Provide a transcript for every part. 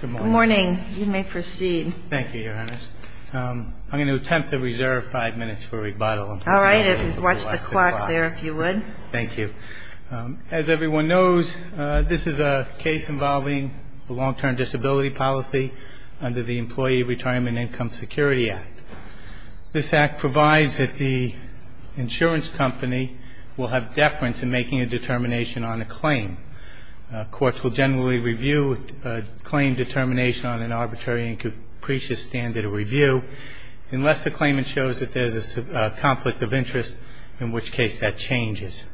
Good morning. You may proceed. Thank you, Your Honor. I'm going to attempt to reserve five minutes for rebuttal. All right. Watch the clock there, if you would. Thank you. As everyone knows, this is a case involving a long-term disability policy under the Employee Retirement and Income Security Act. This act provides that the insurance company will have claim determination on an arbitrary and capricious standard of review unless the claimant shows that there's a conflict of interest, in which case that changes.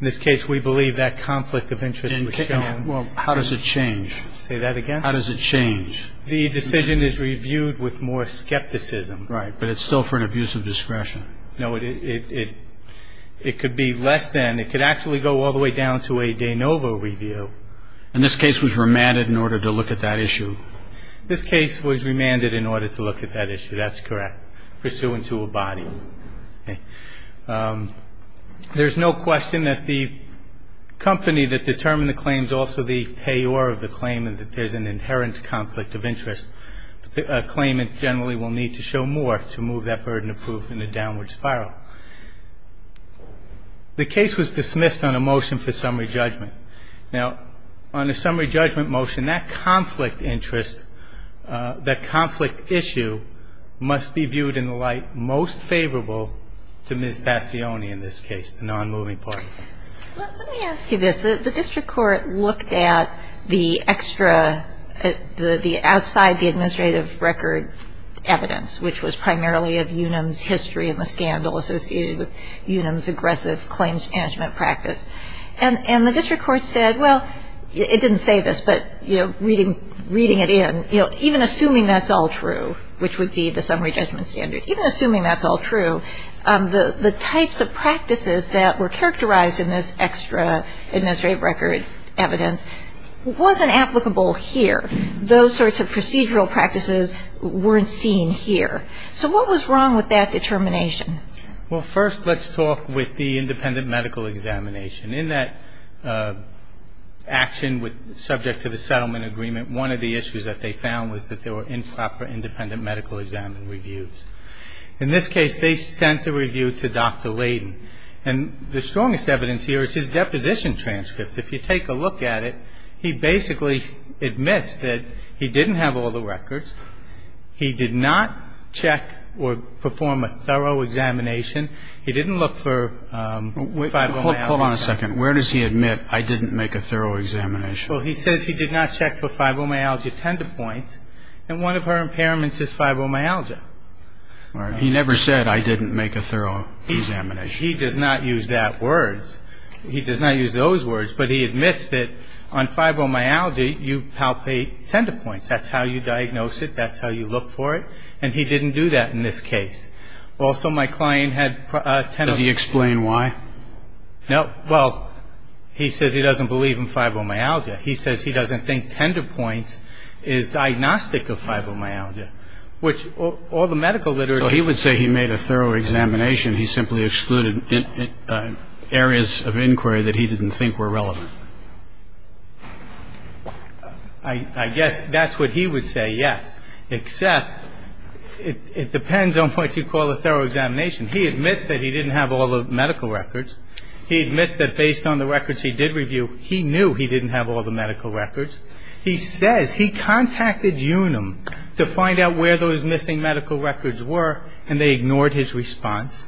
In this case, we believe that conflict of interest was shown. Well, how does it change? Say that again? How does it change? The decision is reviewed with more skepticism. Right. But it's still for an abuse of discretion. No, it could be less than. It could actually go all the way down to a de novo review. And this case was remanded in order to look at that issue? This case was remanded in order to look at that issue. That's correct. Pursuant to a body. There's no question that the company that determined the claim is also the payor of the claimant, that there's an inherent conflict of interest. The claimant generally will need to show more to move that burden of proof in a downward spiral. The case was dismissed on a motion for summary judgment. Now, on a summary judgment motion, that conflict interest, that conflict issue must be viewed in the light most favorable to Ms. Passione in this case, the non-moving party. Let me ask you this. The district court looked at the extra, the outside, the administrative record evidence, which was primarily of Unum's history and the scandal associated with Unum's aggressive claims management practice. And the district court said, well, it didn't say this, but reading it in, even assuming that's all true, which would be the summary judgment standard, even assuming that's all true, the types of practices that were characterized in this extra administrative record evidence wasn't applicable here. Those sorts of procedural practices weren't seen here. So what was wrong with that determination? Well, first, let's talk with the independent medical examination. In that action, subject to the settlement agreement, one of the issues that they found was that there were improper independent medical exam reviews. In this case, they sent the review to Dr. Layden. And the strongest evidence here is his deposition transcript. If you take a look at it, he basically admits that he didn't have all the records. He did not check or perform a thorough examination. He didn't look for fibromyalgia. Hold on a second. Where does he admit, I didn't make a thorough examination? Well, he says he did not check for fibromyalgia tender points. And one of her impairments is fibromyalgia. He never said, I didn't make a thorough examination. He does not use that word. He does not use those words. But he admits that on fibromyalgia, you palpate tender points. That's how you diagnose it. That's how you look for it. And he didn't do that in this case. Also, my client had tenosynovitis. Does he explain why? No. Well, he says he doesn't believe in fibromyalgia. He says he doesn't think tender points is diagnostic of fibromyalgia, which all the medical literature He would say he made a thorough examination. He simply excluded areas of inquiry that he didn't think were relevant. I guess that's what he would say, yes. Except it depends on what you call a thorough examination. He admits that he didn't have all the medical records. He admits that based on the records he did review, he knew he didn't have all the medical records. He says he contacted Unum to find out where those missing medical records were, and they ignored his response.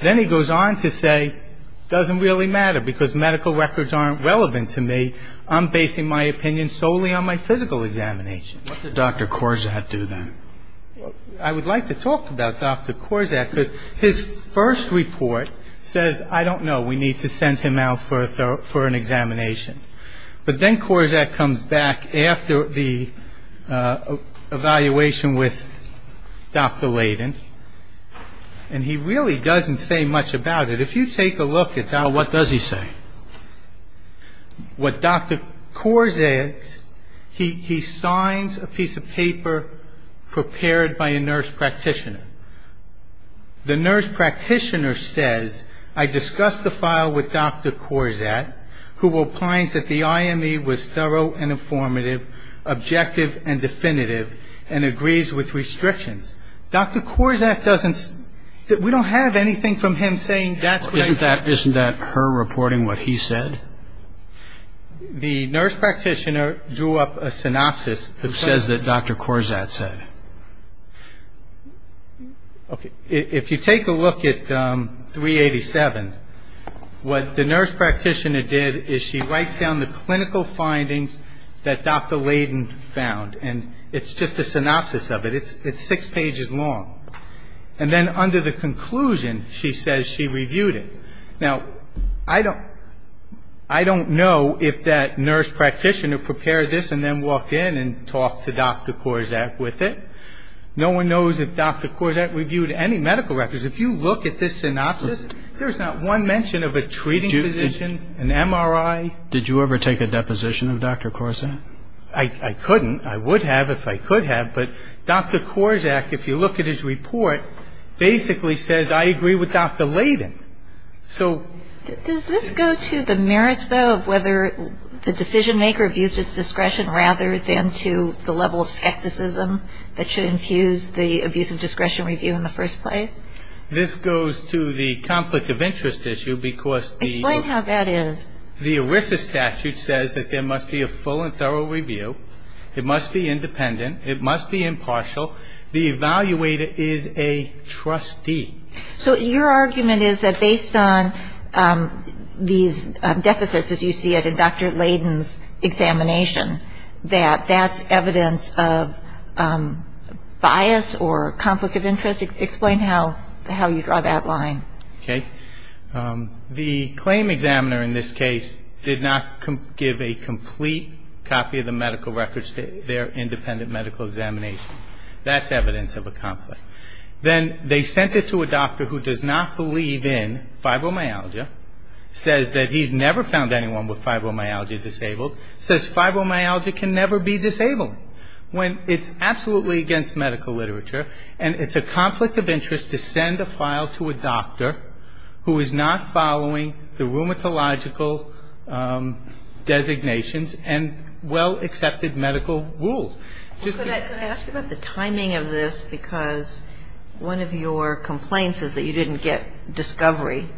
Then he goes on to say, it doesn't really matter because medical records aren't relevant to me. I'm basing my opinion solely on my physical examination. What did Dr. Korczak do then? I would like to talk about Dr. Korczak because his first report says, I don't know, we need to send him out for an examination. But then Korczak comes back after the evaluation with Dr. Layden, and he really doesn't say much about it. If you take a look at that What does he say? What Dr. Korczak, he signs a piece of paper prepared by a nurse practitioner. The nurse practitioner says, I discussed the file with Dr. Korczak, who replies that the IME was thorough and informative, objective and definitive, and agrees with restrictions. Dr. Korczak doesn't, we don't have anything from him saying that's what I said. Isn't that her reporting what he said? The nurse practitioner drew up a synopsis That says what Dr. Korczak said. Okay. If you take a look at 387, what the nurse practitioner did is she writes down the clinical findings that Dr. Layden found, and it's just a synopsis of it. It's six pages long. And then under the conclusion, she says she reviewed it. Now, I don't know if that nurse practitioner prepared this and then walked in and talked to Dr. Korczak with it. No one knows if Dr. Korczak reviewed any medical records. If you look at this synopsis, there's not one mention of a treating physician, an MRI. Did you ever take a deposition of Dr. Korczak? I couldn't. I would have if I could have. But Dr. Korczak, if you look at his report, basically says, I agree with Dr. Layden. So Does this go to the merits, though, of whether the decision maker abused its discretion rather than to the level of skepticism that should infuse the abuse of discretion review in the first place? This goes to the conflict of interest issue because the Explain how that is. The ERISA statute says that there must be a full and thorough review. It must be independent. It must be impartial. The evaluator is a trustee. So your argument is that based on these deficits, as you see it in Dr. Layden's examination, that that's evidence of bias or conflict of interest? Explain how you draw that line. Okay. The claim examiner in this case did not give a complete copy of the medical records to their independent medical examination. That's evidence of a conflict. Then they sent it to a doctor who does not believe in fibromyalgia, says that he's never found anyone with fibromyalgia disabled, says fibromyalgia can never be disabled. When it's absolutely against medical literature and it's a conflict of interest to send a file to a doctor who is not following the rheumatological designations and well-accepted medical rules. Could I ask about the timing of this? Because one of your complaints is that you didn't get discovery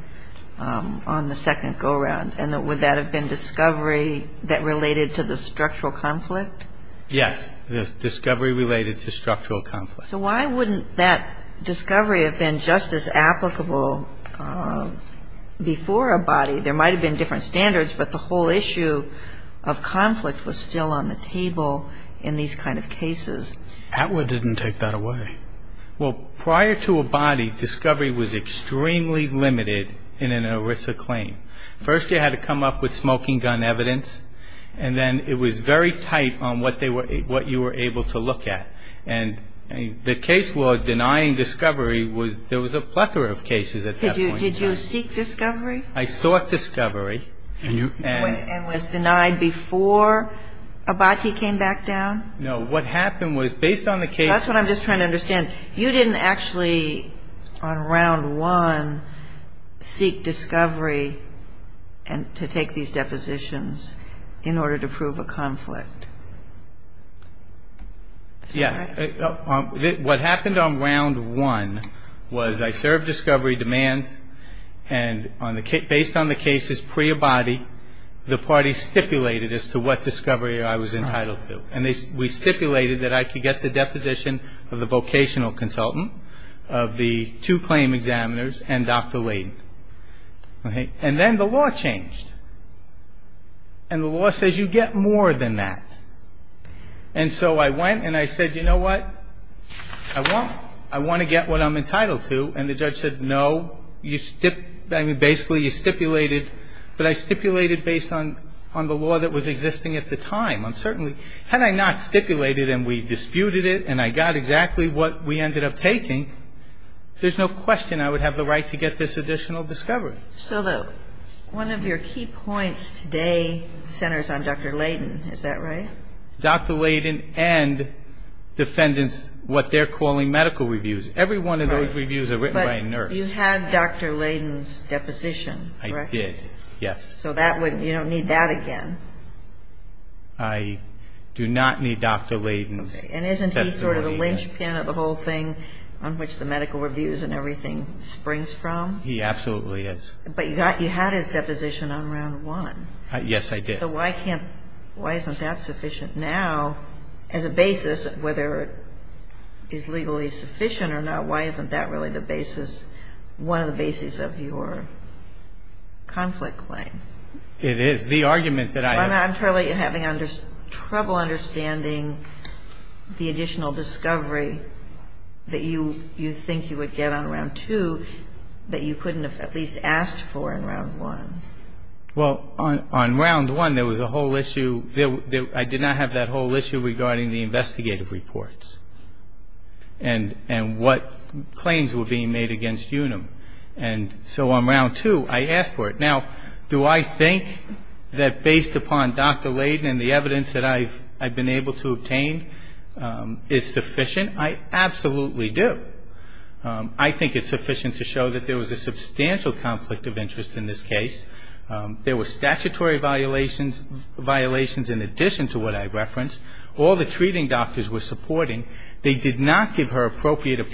on the second go-round. And would that have been discovery that related to the structural conflict? Yes. The discovery related to structural conflict. So why wouldn't that discovery have been just as applicable before a body? There might have been different standards, but the whole issue of conflict was still on the table in these kind of cases. Atwood didn't take that away. Well, prior to a body, discovery was extremely limited in an ERISA claim. First you had to come up with smoking gun evidence. And then it was very tight on what you were able to look at. And the case law denying discovery, there was a plethora of cases at that point in time. Did you seek discovery? I sought discovery. And was denied before a body came back down? No. What happened was, based on the case law That's what I'm just trying to understand. You didn't actually, on round one, seek discovery to take these depositions in order to prove a conflict? Yes. What happened on round one was I served discovery demands. And based on the cases pre-a body, the party stipulated as to what discovery I was entitled to. And we stipulated that I could get the deposition of the vocational consultant, of the two claim examiners, and Dr. Layden. And then the law changed. And the law says you get more than that. And so I went and I said, you know what? I want to get what I'm entitled to. And the judge said, no, you stipulated, but I stipulated based on the law that was existing at the time. Had I not stipulated and we disputed it and I got exactly what we ended up taking, there's no question I would have the right to get this additional discovery. So one of your key points today centers on Dr. Layden. Is that right? Dr. Layden and defendants, what they're calling medical reviews. Every one of those reviews are written by a nurse. But you had Dr. Layden's deposition, correct? I did, yes. So you don't need that again? I do not need Dr. Layden's testimony. And isn't he sort of the linchpin of the whole thing on which the medical reviews and everything springs from? He absolutely is. But you had his deposition on round one. Yes, I did. So why can't, why isn't that sufficient now as a basis, whether it is legally sufficient or not, why isn't that really the basis, one of the bases of your conflict claim? It is. The argument that I have... I'm having trouble understanding the additional discovery that you think you would get on round two that you couldn't have at least asked for in round one. Well, on round one there was a whole issue, I did not have that whole issue regarding the investigative reports and what claims were being made against UNUM. And so on round two I asked for it. Now, do I think that based upon Dr. Layden and the evidence that I've been able to obtain is sufficient? I absolutely do. I think it's sufficient to show that there was a substantial conflict of interest in this case. There were statutory violations in addition to what I referenced. All the treating doctors were supporting. They did not give her appropriate claim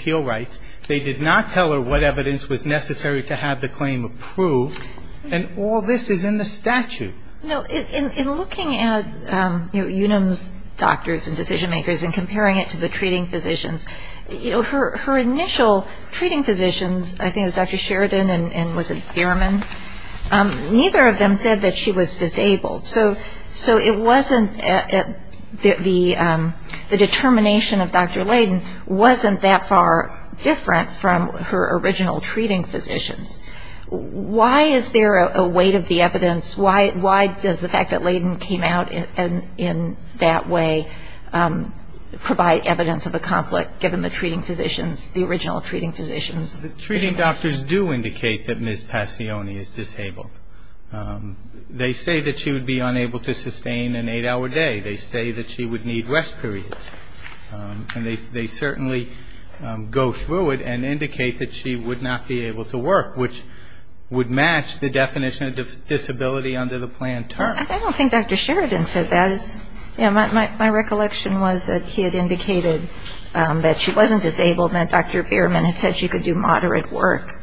approved. And all this is in the statute. No, in looking at UNUM's doctors and decision makers and comparing it to the treating physicians, you know, her initial treating physicians, I think it was Dr. Sheridan and was it Bierman, neither of them said that she was disabled. So it wasn't, the determination of Dr. Layden wasn't that far different from her original treating physicians. Why is there a weight of the evidence? Why does the fact that Layden came out in that way provide evidence of a conflict given the treating physicians, the original treating physicians? The treating doctors do indicate that Ms. Passione is disabled. They say that she would be unable to sustain an eight-hour day. They say that she would need rest periods. And they certainly go through it and indicate that she would not be able to work, which would match the definition of disability under the plan terms. I don't think Dr. Sheridan said that. My recollection was that he had indicated that she wasn't disabled and that Dr. Bierman had said she could do moderate work.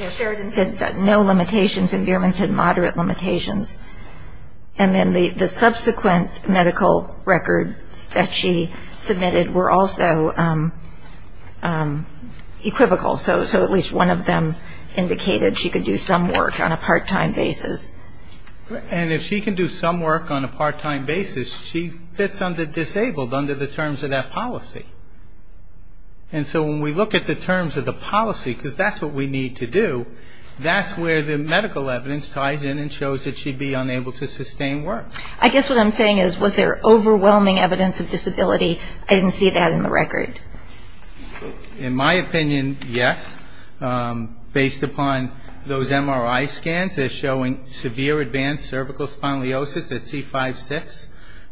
Yeah, Sheridan said no limitations and Bierman said moderate limitations. And then the subsequent medical records that she submitted were also equivocal. So at least one of them indicated she could do some work on a part-time basis. And if she can do some work on a part-time basis, she fits under disabled under the terms of that policy. And so when we look at the terms of the policy, because that's what we need to do, that's where the medical evidence ties in and shows that she'd be unable to sustain work. I guess what I'm saying is, was there overwhelming evidence of disability? I didn't see that in the record. In my opinion, yes. Based upon those MRI scans, they're showing severe advanced cervical spondylosis at C5-6.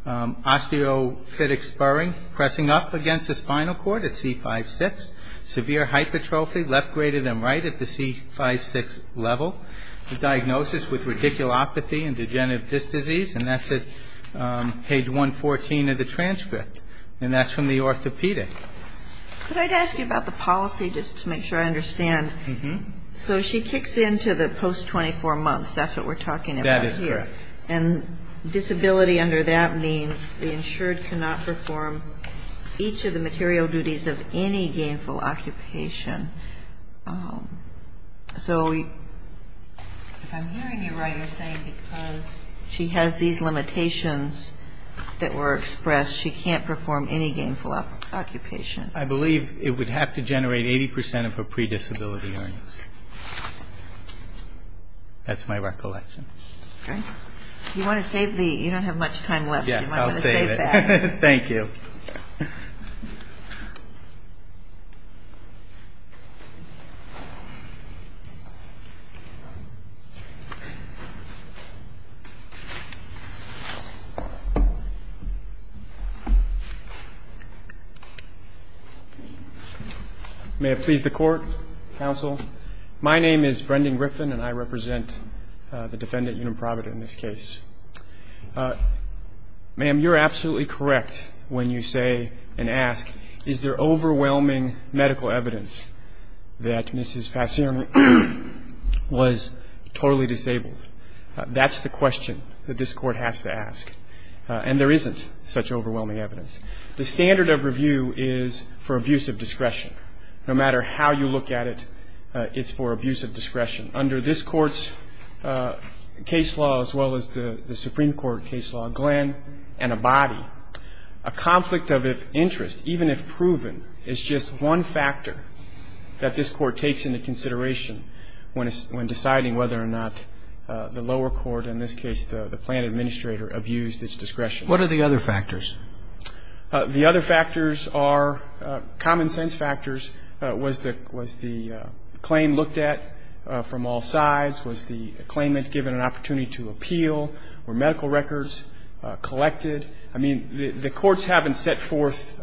Osteophytic spurring, pressing up against the spinal cord at C5-6. Severe hypertrophy, left greater than right at the C5-6 level. A diagnosis with radiculopathy and degenerative disc disease, and that's at page 114 of the transcript. And that's from the orthopedic. Could I ask you about the policy, just to make sure I understand? Mm-hmm. So she kicks into the post-24 months. That's what we're talking about here. That is correct. And disability under that means the insured cannot perform each of the material duties of any gainful occupation. So if I'm hearing you right, you're saying because she has these gainful occupations. I believe it would have to generate 80% of her pre-disability earnings. That's my recollection. Great. You want to save the, you don't have much time left. Yes, I'll save it. You might want to save that. Okay. May it please the Court, Counsel. My name is Brendan Griffin, and I represent the defendant, Unum Provida, in this case. Ma'am, you're absolutely correct when you say and ask, is there overwhelming medical evidence that Mrs. Passeron was totally disabled? That's the question that this Court has to ask. And there isn't such overwhelming evidence. The standard of review is for abuse of discretion. No matter how you look at it, it's for abuse of discretion. Under this Court's case law, as well as the Supreme Court case law, Glenn and Abadi, a conflict of interest, even if proven, is just one factor that this Court takes into consideration when deciding whether or not the lower court, in this case the plant administrator, abused its discretion. What are the other factors? The other factors are common sense factors. Was the claim looked at from all sides? Was the claimant given an opportunity to appeal? Were medical records collected? I mean, the courts haven't set forth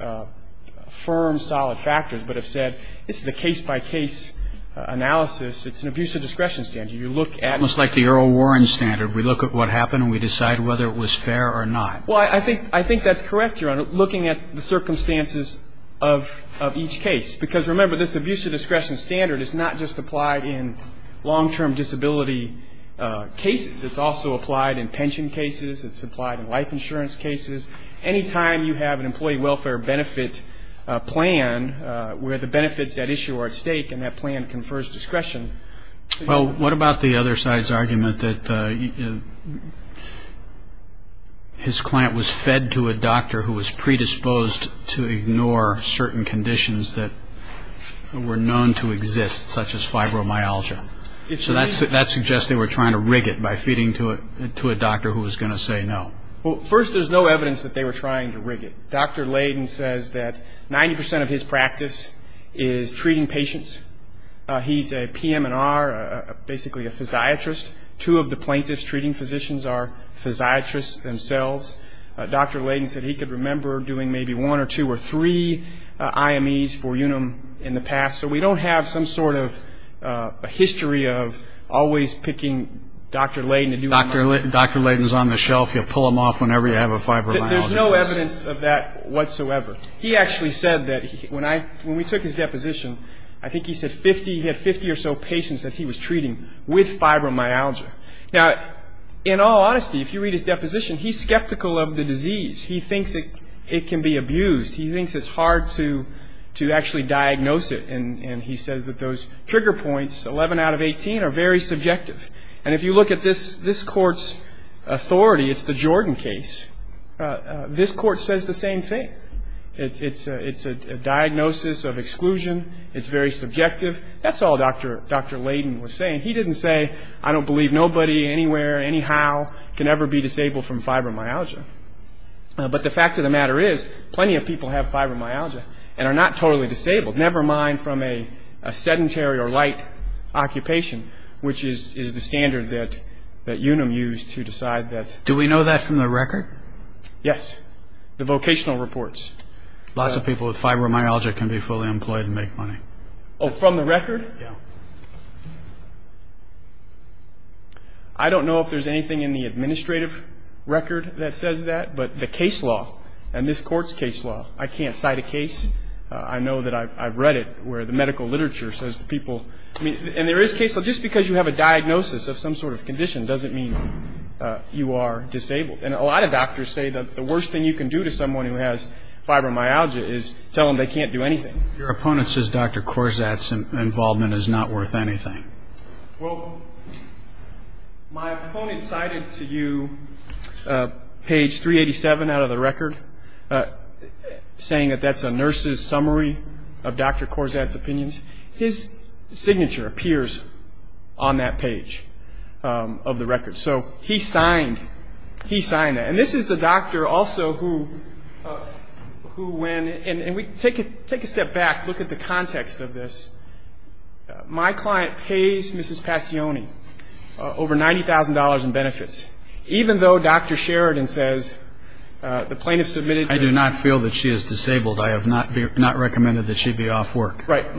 firm, solid factors, but have said, this is a case-by-case analysis. It's an abuse of discretion standard. You look at... Almost like the Earl Warren standard. We look at what happened, and we decide whether it was fair or not. Well, I think that's correct, Your Honor, looking at the circumstances of each case. Because remember, this abuse of discretion standard is not just applied in long-term disability cases. It's also applied in pension cases. It's applied in life insurance cases. Any time you have an employee welfare benefit plan where the benefits at issue are at stake and that plan confers discretion... What about the other side's argument that his client was fed to a doctor who was predisposed to ignore certain conditions that were known to exist, such as fibromyalgia? So that suggests they were trying to rig it by feeding it to a doctor who was going to say no. Well, first, there's no evidence that they were trying to rig it. Dr. Layden says that 90% of his practice is treating patients. He's a PM&R, basically a physiatrist. Two of the plaintiffs treating physicians are physiatrists themselves. Dr. Layden said he could remember doing maybe one or two or three IMEs for Unum in the past. So we don't have some sort of history of always picking Dr. Layden to do... Dr. Layden's on the shelf. You pull him off whenever you have a fibromyalgia case. There's no evidence of that whatsoever. He actually said that when we took his deposition, I think he said he had 50 or so patients that he was treating with fibromyalgia. Now, in all honesty, if you read his deposition, he's skeptical of the disease. He thinks it can be abused. He thinks it's hard to actually diagnose it, and he says that those trigger points, 11 out of 18, are very subjective. And if you look at this Court's authority, it's the Jordan case. This Court says the same thing. It's a diagnosis of exclusion. It's very subjective. That's all Dr. Layden was saying. He didn't say, I don't believe nobody anywhere, anyhow, can ever be disabled from fibromyalgia. But the fact of the matter is, plenty of people have fibromyalgia and are not totally disabled, never mind from a sedentary or light occupation, which is the standard that Unum used to decide that Do we know that from the record? Yes. The vocational reports. Lots of people with fibromyalgia can be fully employed and make money. Oh, from the record? Yeah. I don't know if there's anything in the administrative record that says that, but the case law and this Court's case law, I can't cite a case. I know that I've read it where the medical literature says the people, I mean, and there is case law. Just because you have a diagnosis of some sort of condition doesn't mean you are disabled. And a lot of doctors say that the worst thing you can do to someone who has fibromyalgia is tell them they can't do anything. Your opponent says Dr. Korzat's involvement is not worth anything. Well, my opponent cited to you page 387 out of the record, saying that that's a nurse's on that page of the record. So he signed that. And this is the doctor also who, when, and we take a step back, look at the context of this. My client pays Mrs. Passioni over $90,000 in benefits, even though Dr. Sheridan says the plaintiff submitted I do not feel that she is disabled. I have not recommended that she be off work. Right.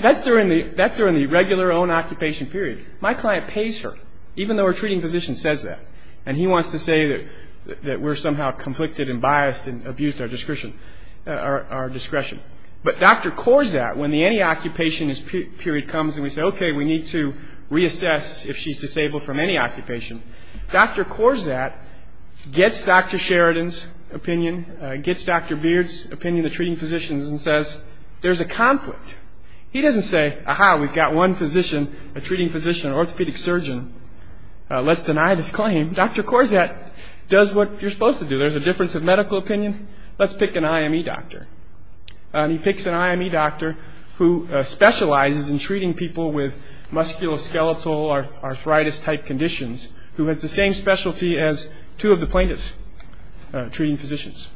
That's during the regular own occupation period. My client pays her, even though her treating physician says that. And he wants to say that we're somehow conflicted and biased and abused our discretion. But Dr. Korzat, when the any occupation period comes and we say, okay, we need to reassess if she's disabled from any occupation, Dr. Korzat gets Dr. Sheridan's opinion, gets Dr. Beard's opinion, the treating physician's, and says, there's a conflict. He doesn't say, aha, we've got one physician, a treating physician, an orthopedic surgeon. Let's deny this claim. Dr. Korzat does what you're supposed to do. There's a difference of medical opinion. Let's pick an IME doctor. He picks an IME doctor who specializes in treating people with musculoskeletal arthritis type conditions, who has the same specialty as two of the plaintiffs' treating physicians.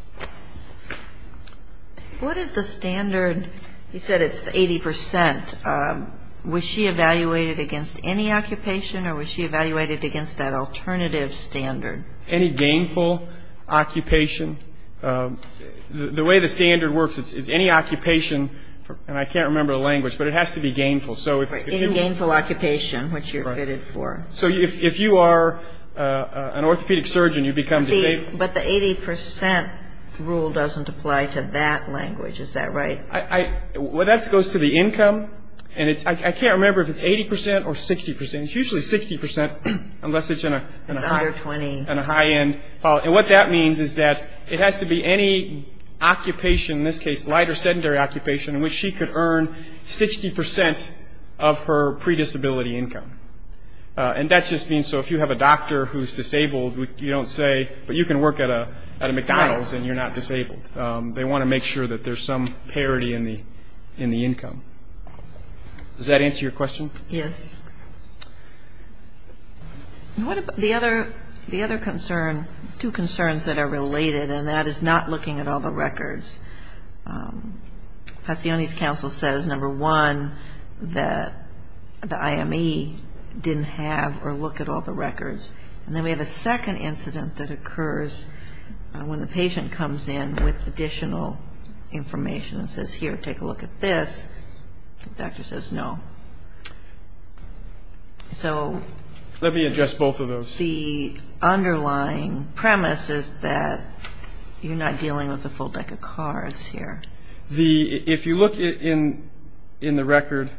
What is the standard? He said it's 80%. Was she evaluated against any occupation or was she evaluated against that alternative standard? Any gainful occupation. The way the standard works is any occupation, and I can't remember the language, but it has to be gainful. Any gainful occupation, which you're fitted for. If you are an orthopedic surgeon, you become disabled. But the 80% rule doesn't apply to that language. Is that right? That goes to the income. I can't remember if it's 80% or 60%. It's usually 60% unless it's in a high end. What that means is that it has to be any occupation, in this case, light or sedentary occupation, in which she could earn 60% of her predisability income. And that just means so if you have a doctor who's disabled, you don't say, but you can work at a McDonald's and you're not disabled. They want to make sure that there's some parity in the income. Does that answer your question? Yes. The other concern, two concerns that are related, and that is not looking at all the records. Passione's counsel says, number one, that the IME didn't have or look at all the records. And then we have a second incident that occurs when the patient comes in with additional information and says, here, take a look at this. The doctor says no. So the underlying premise is that you're not dealing with the full deck of cards. If you look in the record,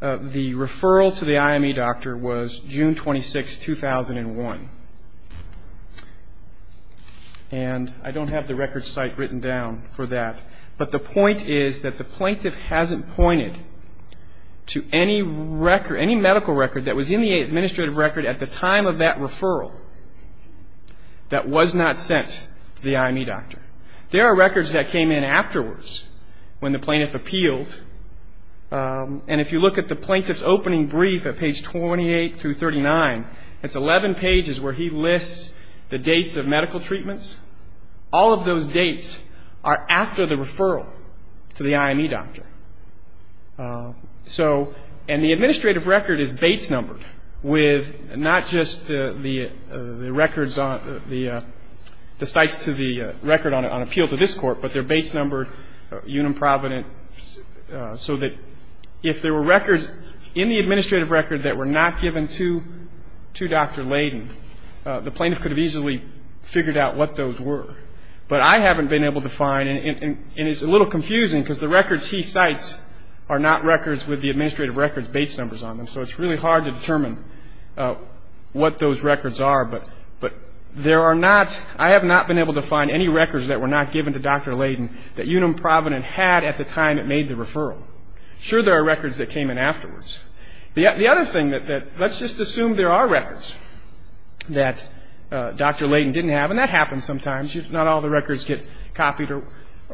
the referral to the IME doctor was June 26, 2001. And I don't have the record site written down for that. But the point is that the plaintiff hasn't pointed to any medical record that was in the administrative record at the time of that referral that was not sent to the IME doctor. There are records that came in afterwards when the plaintiff appealed. And if you look at the plaintiff's opening brief at page 28 through 39, it's 11 pages where he lists the dates of medical treatments. All of those dates are after the referral to the IME doctor. So and the administrative record is base numbered with not just the records, the sites to the record on appeal to this court, but they're base numbered, unimprovident, so that if there were records in the administrative record that were not given to Dr. Layden, the plaintiff could have easily figured out what those were. But I haven't been able to find, and it's a little confusing because the records he cites are not records with the administrative records base numbers on them. So it's really hard to determine what those records are. But there are not, I have not been able to find any records that were not given to Dr. Layden that unimprovident had at the time it made the referral. Sure there are records that came in afterwards. The other thing that, let's just assume there are records that Dr. Layden didn't have, and that happens sometimes. Not all the records get copied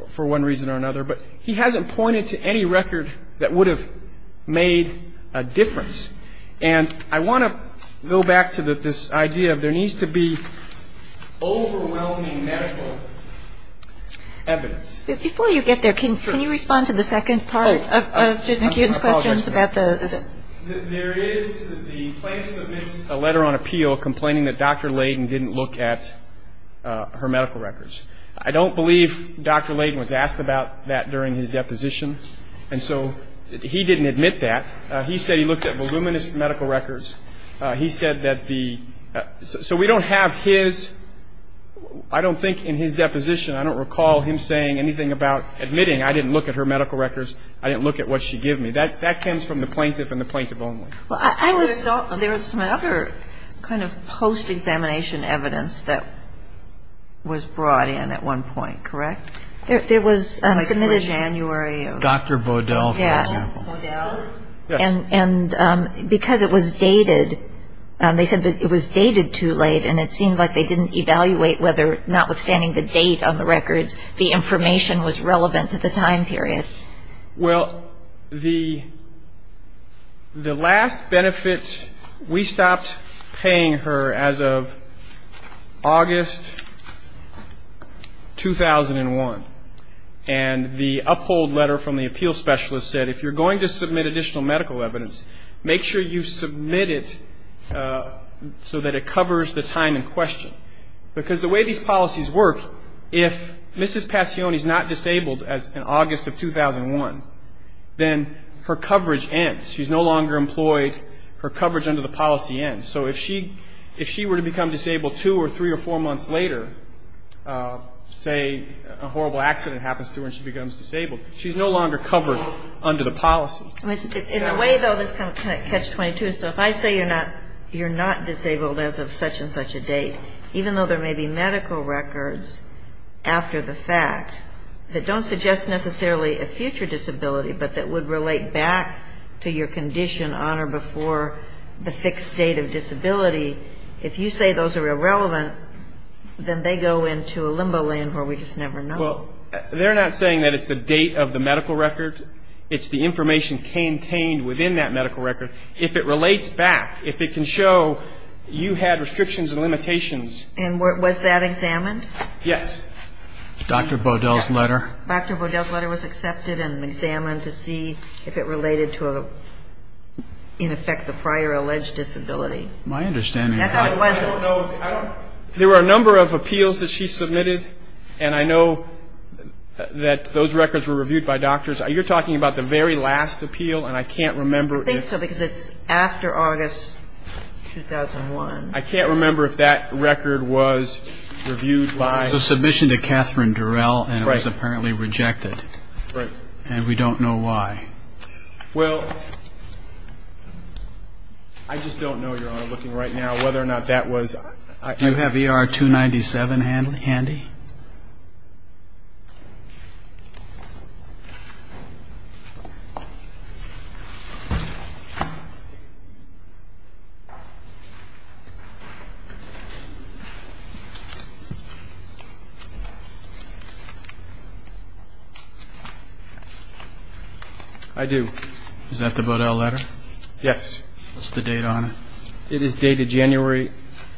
for one reason or another. But he hasn't pointed to any record that would have made a difference. And I want to go back to this idea of there needs to be overwhelming medical evidence. Before you get there, can you respond to the second part of Judith Newton's questions about the... There is, the plaintiff submits a letter on appeal complaining that Dr. Layden didn't look at her medical records. I don't believe Dr. Layden was asked about that during his testimony. He said that the, so we don't have his, I don't think in his deposition, I don't recall him saying anything about admitting I didn't look at her medical records, I didn't look at what she gave me. That comes from the plaintiff and the plaintiff only. Well, I was... There was some other kind of post-examination evidence that was brought in at one point, correct? There was submitted in January of... Dr. Bodell, for example. Dr. Bodell. And because it was dated, they said that it was dated too late and it seemed like they didn't evaluate whether, notwithstanding the date on the records, the information was relevant to the time period. Well, the last benefit, we stopped paying her as of August 2001. And the uphold letter from the appeals specialist said, if you're going to submit additional medical evidence, make sure you submit it so that it covers the time in question. Because the way these policies work, if Mrs. Passione is not disabled as in August of 2001, then her coverage ends. She's no longer employed. Her coverage under the policy ends. So if she were to become disabled two or three or four months later, say a horrible accident happens to her and she becomes disabled, she's no longer covered under the policy. In a way, though, this kind of catches 22. So if I say you're not disabled as of such and such a date, even though there may be medical records after the fact that don't suggest necessarily a future disability, but that would relate back to your condition on or before the fixed date of disability, if you say those are irrelevant, then they go into a limbo lane where we just never know. Well, they're not saying that it's the date of the medical record. It's the information contained within that medical record. If it relates back, if it can show you had restrictions and limitations. And was that examined? Yes. Dr. Baudel's letter? Dr. Baudel's letter was accepted and examined to see if it related to, in effect, the prior alleged disability. My understanding is that there were a number of appeals that she submitted. And I know that those records were reviewed by doctors. You're talking about the very last appeal, and I can't remember if I think so, because it's after August 2001. I can't remember if that record was reviewed by It was a submission to Catherine Durrell, and it was apparently rejected. Right. And we don't know why. Well, I just don't know, Your Honor, looking right now, whether or not that was Do you have ER-297 handy? I do. Is that the Baudel letter? Yes. What's the date on it? It is dated January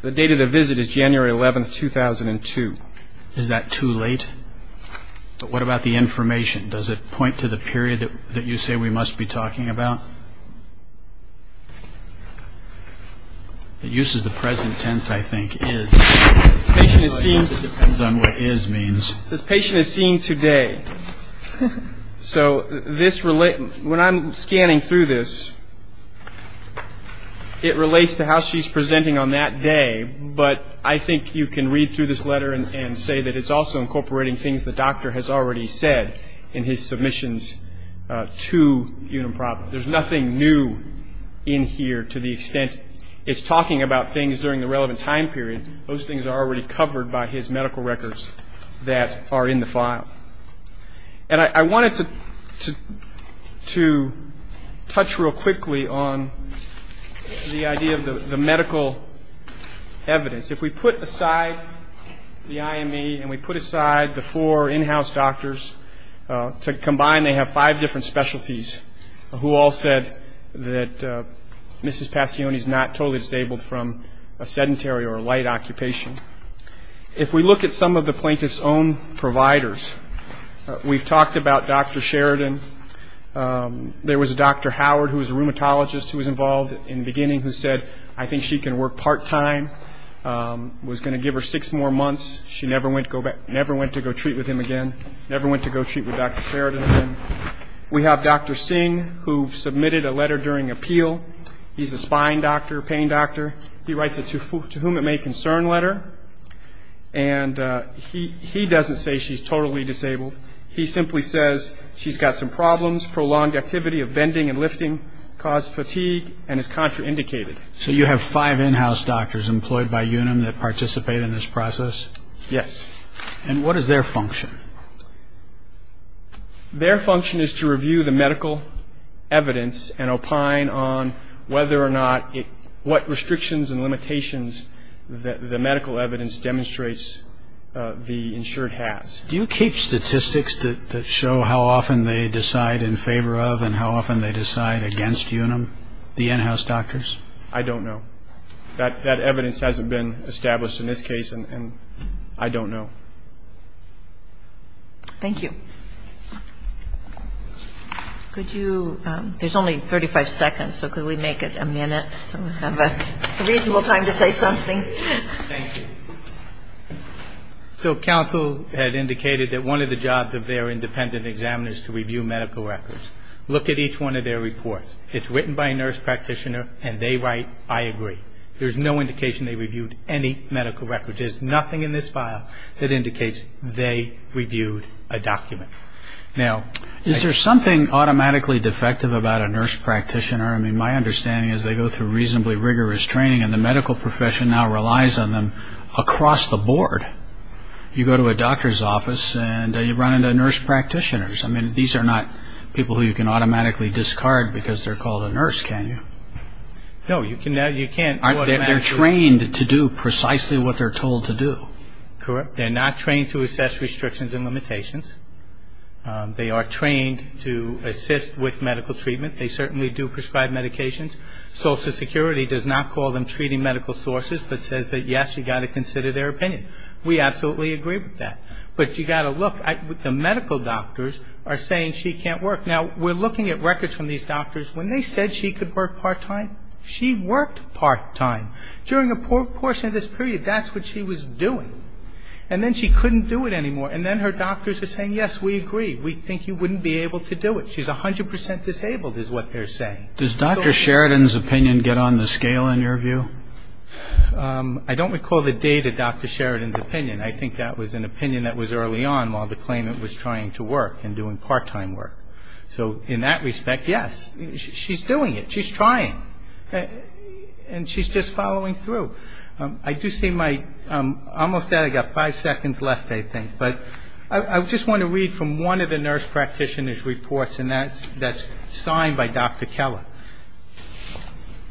The date of the visit is January 11, 2002. Is that too late? But what about the information? Does it point to the period that you say we must be talking about? It uses the present tense, I think, is. It depends on what is means. This patient is seen today. So when I'm scanning through this, it relates to how she's presenting on that day. But I think you can read through this letter and say that it's also incorporating things the doctor has already said in his submissions to Unimproper. There's nothing new in here to the extent it's talking about things during the relevant time period. Those things are already covered by his medical records that are in the file. And I wanted to touch real quickly on the idea of the medical evidence. If we put aside the IME and we put aside the four in-house doctors, to combine they have five different specialties, who all said that Mrs. Passione is not totally disabled from a sedentary or a light occupation. If we look at some of the plaintiff's own providers, we've talked about Dr. Sheridan. There was a Dr. Howard who was a rheumatologist who was involved in the beginning who said I think she can work part-time, was going to give her six more months. She never went to go treat with him again, never went to go treat with Dr. Sheridan again. We have Dr. Singh who submitted a letter during appeal. He's a spine doctor, pain doctor. He writes a to whom it may concern letter. And he doesn't say she's totally disabled. He simply says she's got some problems, prolonged activity of bending and lifting, caused fatigue, and is contraindicated. So you have five in-house doctors employed by UNUM that participate in this process? Yes. And what is their function? Their function is to review the medical evidence and opine on whether or not what restrictions and limitations the medical evidence demonstrates the insured has. Do you keep statistics that show how often they decide in favor of and how often they decide against UNUM, the in-house doctors? I don't know. That evidence hasn't been established in this case, and I don't know. Thank you. Could you ‑‑ there's only 35 seconds, so could we make it a minute so we have a reasonable time to say something? Thank you. So counsel had indicated that one of the jobs of their independent examiner is to review medical records. Look at each one of their reports. It's written by a nurse practitioner, and they write, I agree. There's no indication they reviewed any medical records. There's nothing in this file that indicates they reviewed a document. Now, is there something automatically defective about a nurse practitioner? I mean, my understanding is they go through reasonably rigorous training, and the medical profession now relies on them across the board. You go to a doctor's office, and you run into nurse practitioners. I mean, these are not people who you can automatically discard because they're called a nurse, can you? No, you can't automatically ‑‑ They're trained to do precisely what they're told to do. Correct. They're not trained to assess restrictions and limitations. They are trained to assist with medical treatment. They certainly do prescribe medications. Social Security does not call them treating medical sources, but says that, yes, you've got to consider their opinion. We absolutely agree with that. But you've got to look. The medical doctors are saying she can't work. Now, we're looking at records from these doctors. When they said she could work part time, she worked part time. During a portion of this period, that's what she was doing. And then she couldn't do it anymore. And then her doctors are saying, yes, we agree. We think you wouldn't be able to do it. She's 100% disabled is what they're saying. Does Dr. Sheridan's opinion get on the scale in your view? I don't recall the date of Dr. Sheridan's opinion. I think that was an opinion that was early on while the claimant was trying to work and doing part time work. So in that respect, yes. She's doing it. She's trying. And she's just following through. I do see my ‑‑ almost there. I've got five seconds left, I think. But I just want to read from one of the nurse practitioner's reports, and that's signed by Dr. Keller.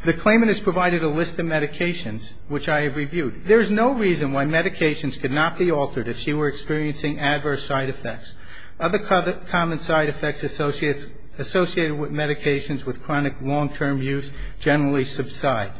The claimant has provided a list of medications, which I have reviewed. There is no reason why medications could not be altered if she were experiencing adverse side effects. Other common side effects associated with medications with chronic long‑term use generally subside.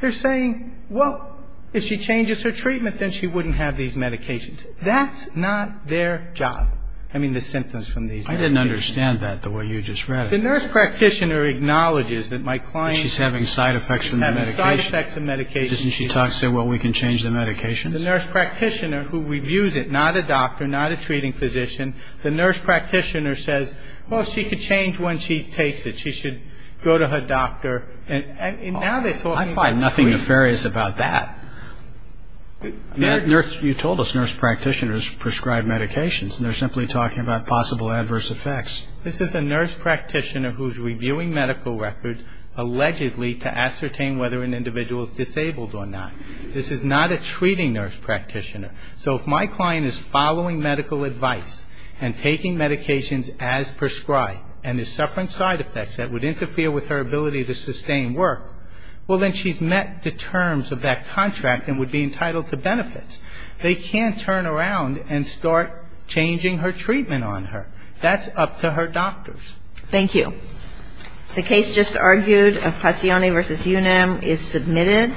They're saying, well, if she changes her treatment, then she wouldn't have these medications. That's not their job. I mean, the symptoms from these medications. I didn't understand that the way you just read it. The nurse practitioner acknowledges that my client is having side effects from the medication. Having side effects from medication. Doesn't she say, well, we can change the medication? The nurse practitioner, who reviews it, not a doctor, not a treating physician, the nurse practitioner says, well, she can change when she takes it. She should go to her doctor. I find nothing nefarious about that. You told us nurse practitioners prescribe medications, and they're simply talking about possible adverse effects. This is a nurse practitioner who's reviewing medical records allegedly to ascertain whether an individual is disabled or not. This is not a treating nurse practitioner. So if my client is following medical advice and taking medications as prescribed and is suffering side effects that would interfere with her ability to sustain work, well, then she's met the terms of that contract and would be entitled to benefits. They can't turn around and start changing her treatment on her. That's up to her doctors. Thank you. The case just argued of Passione v. Unam is submitted.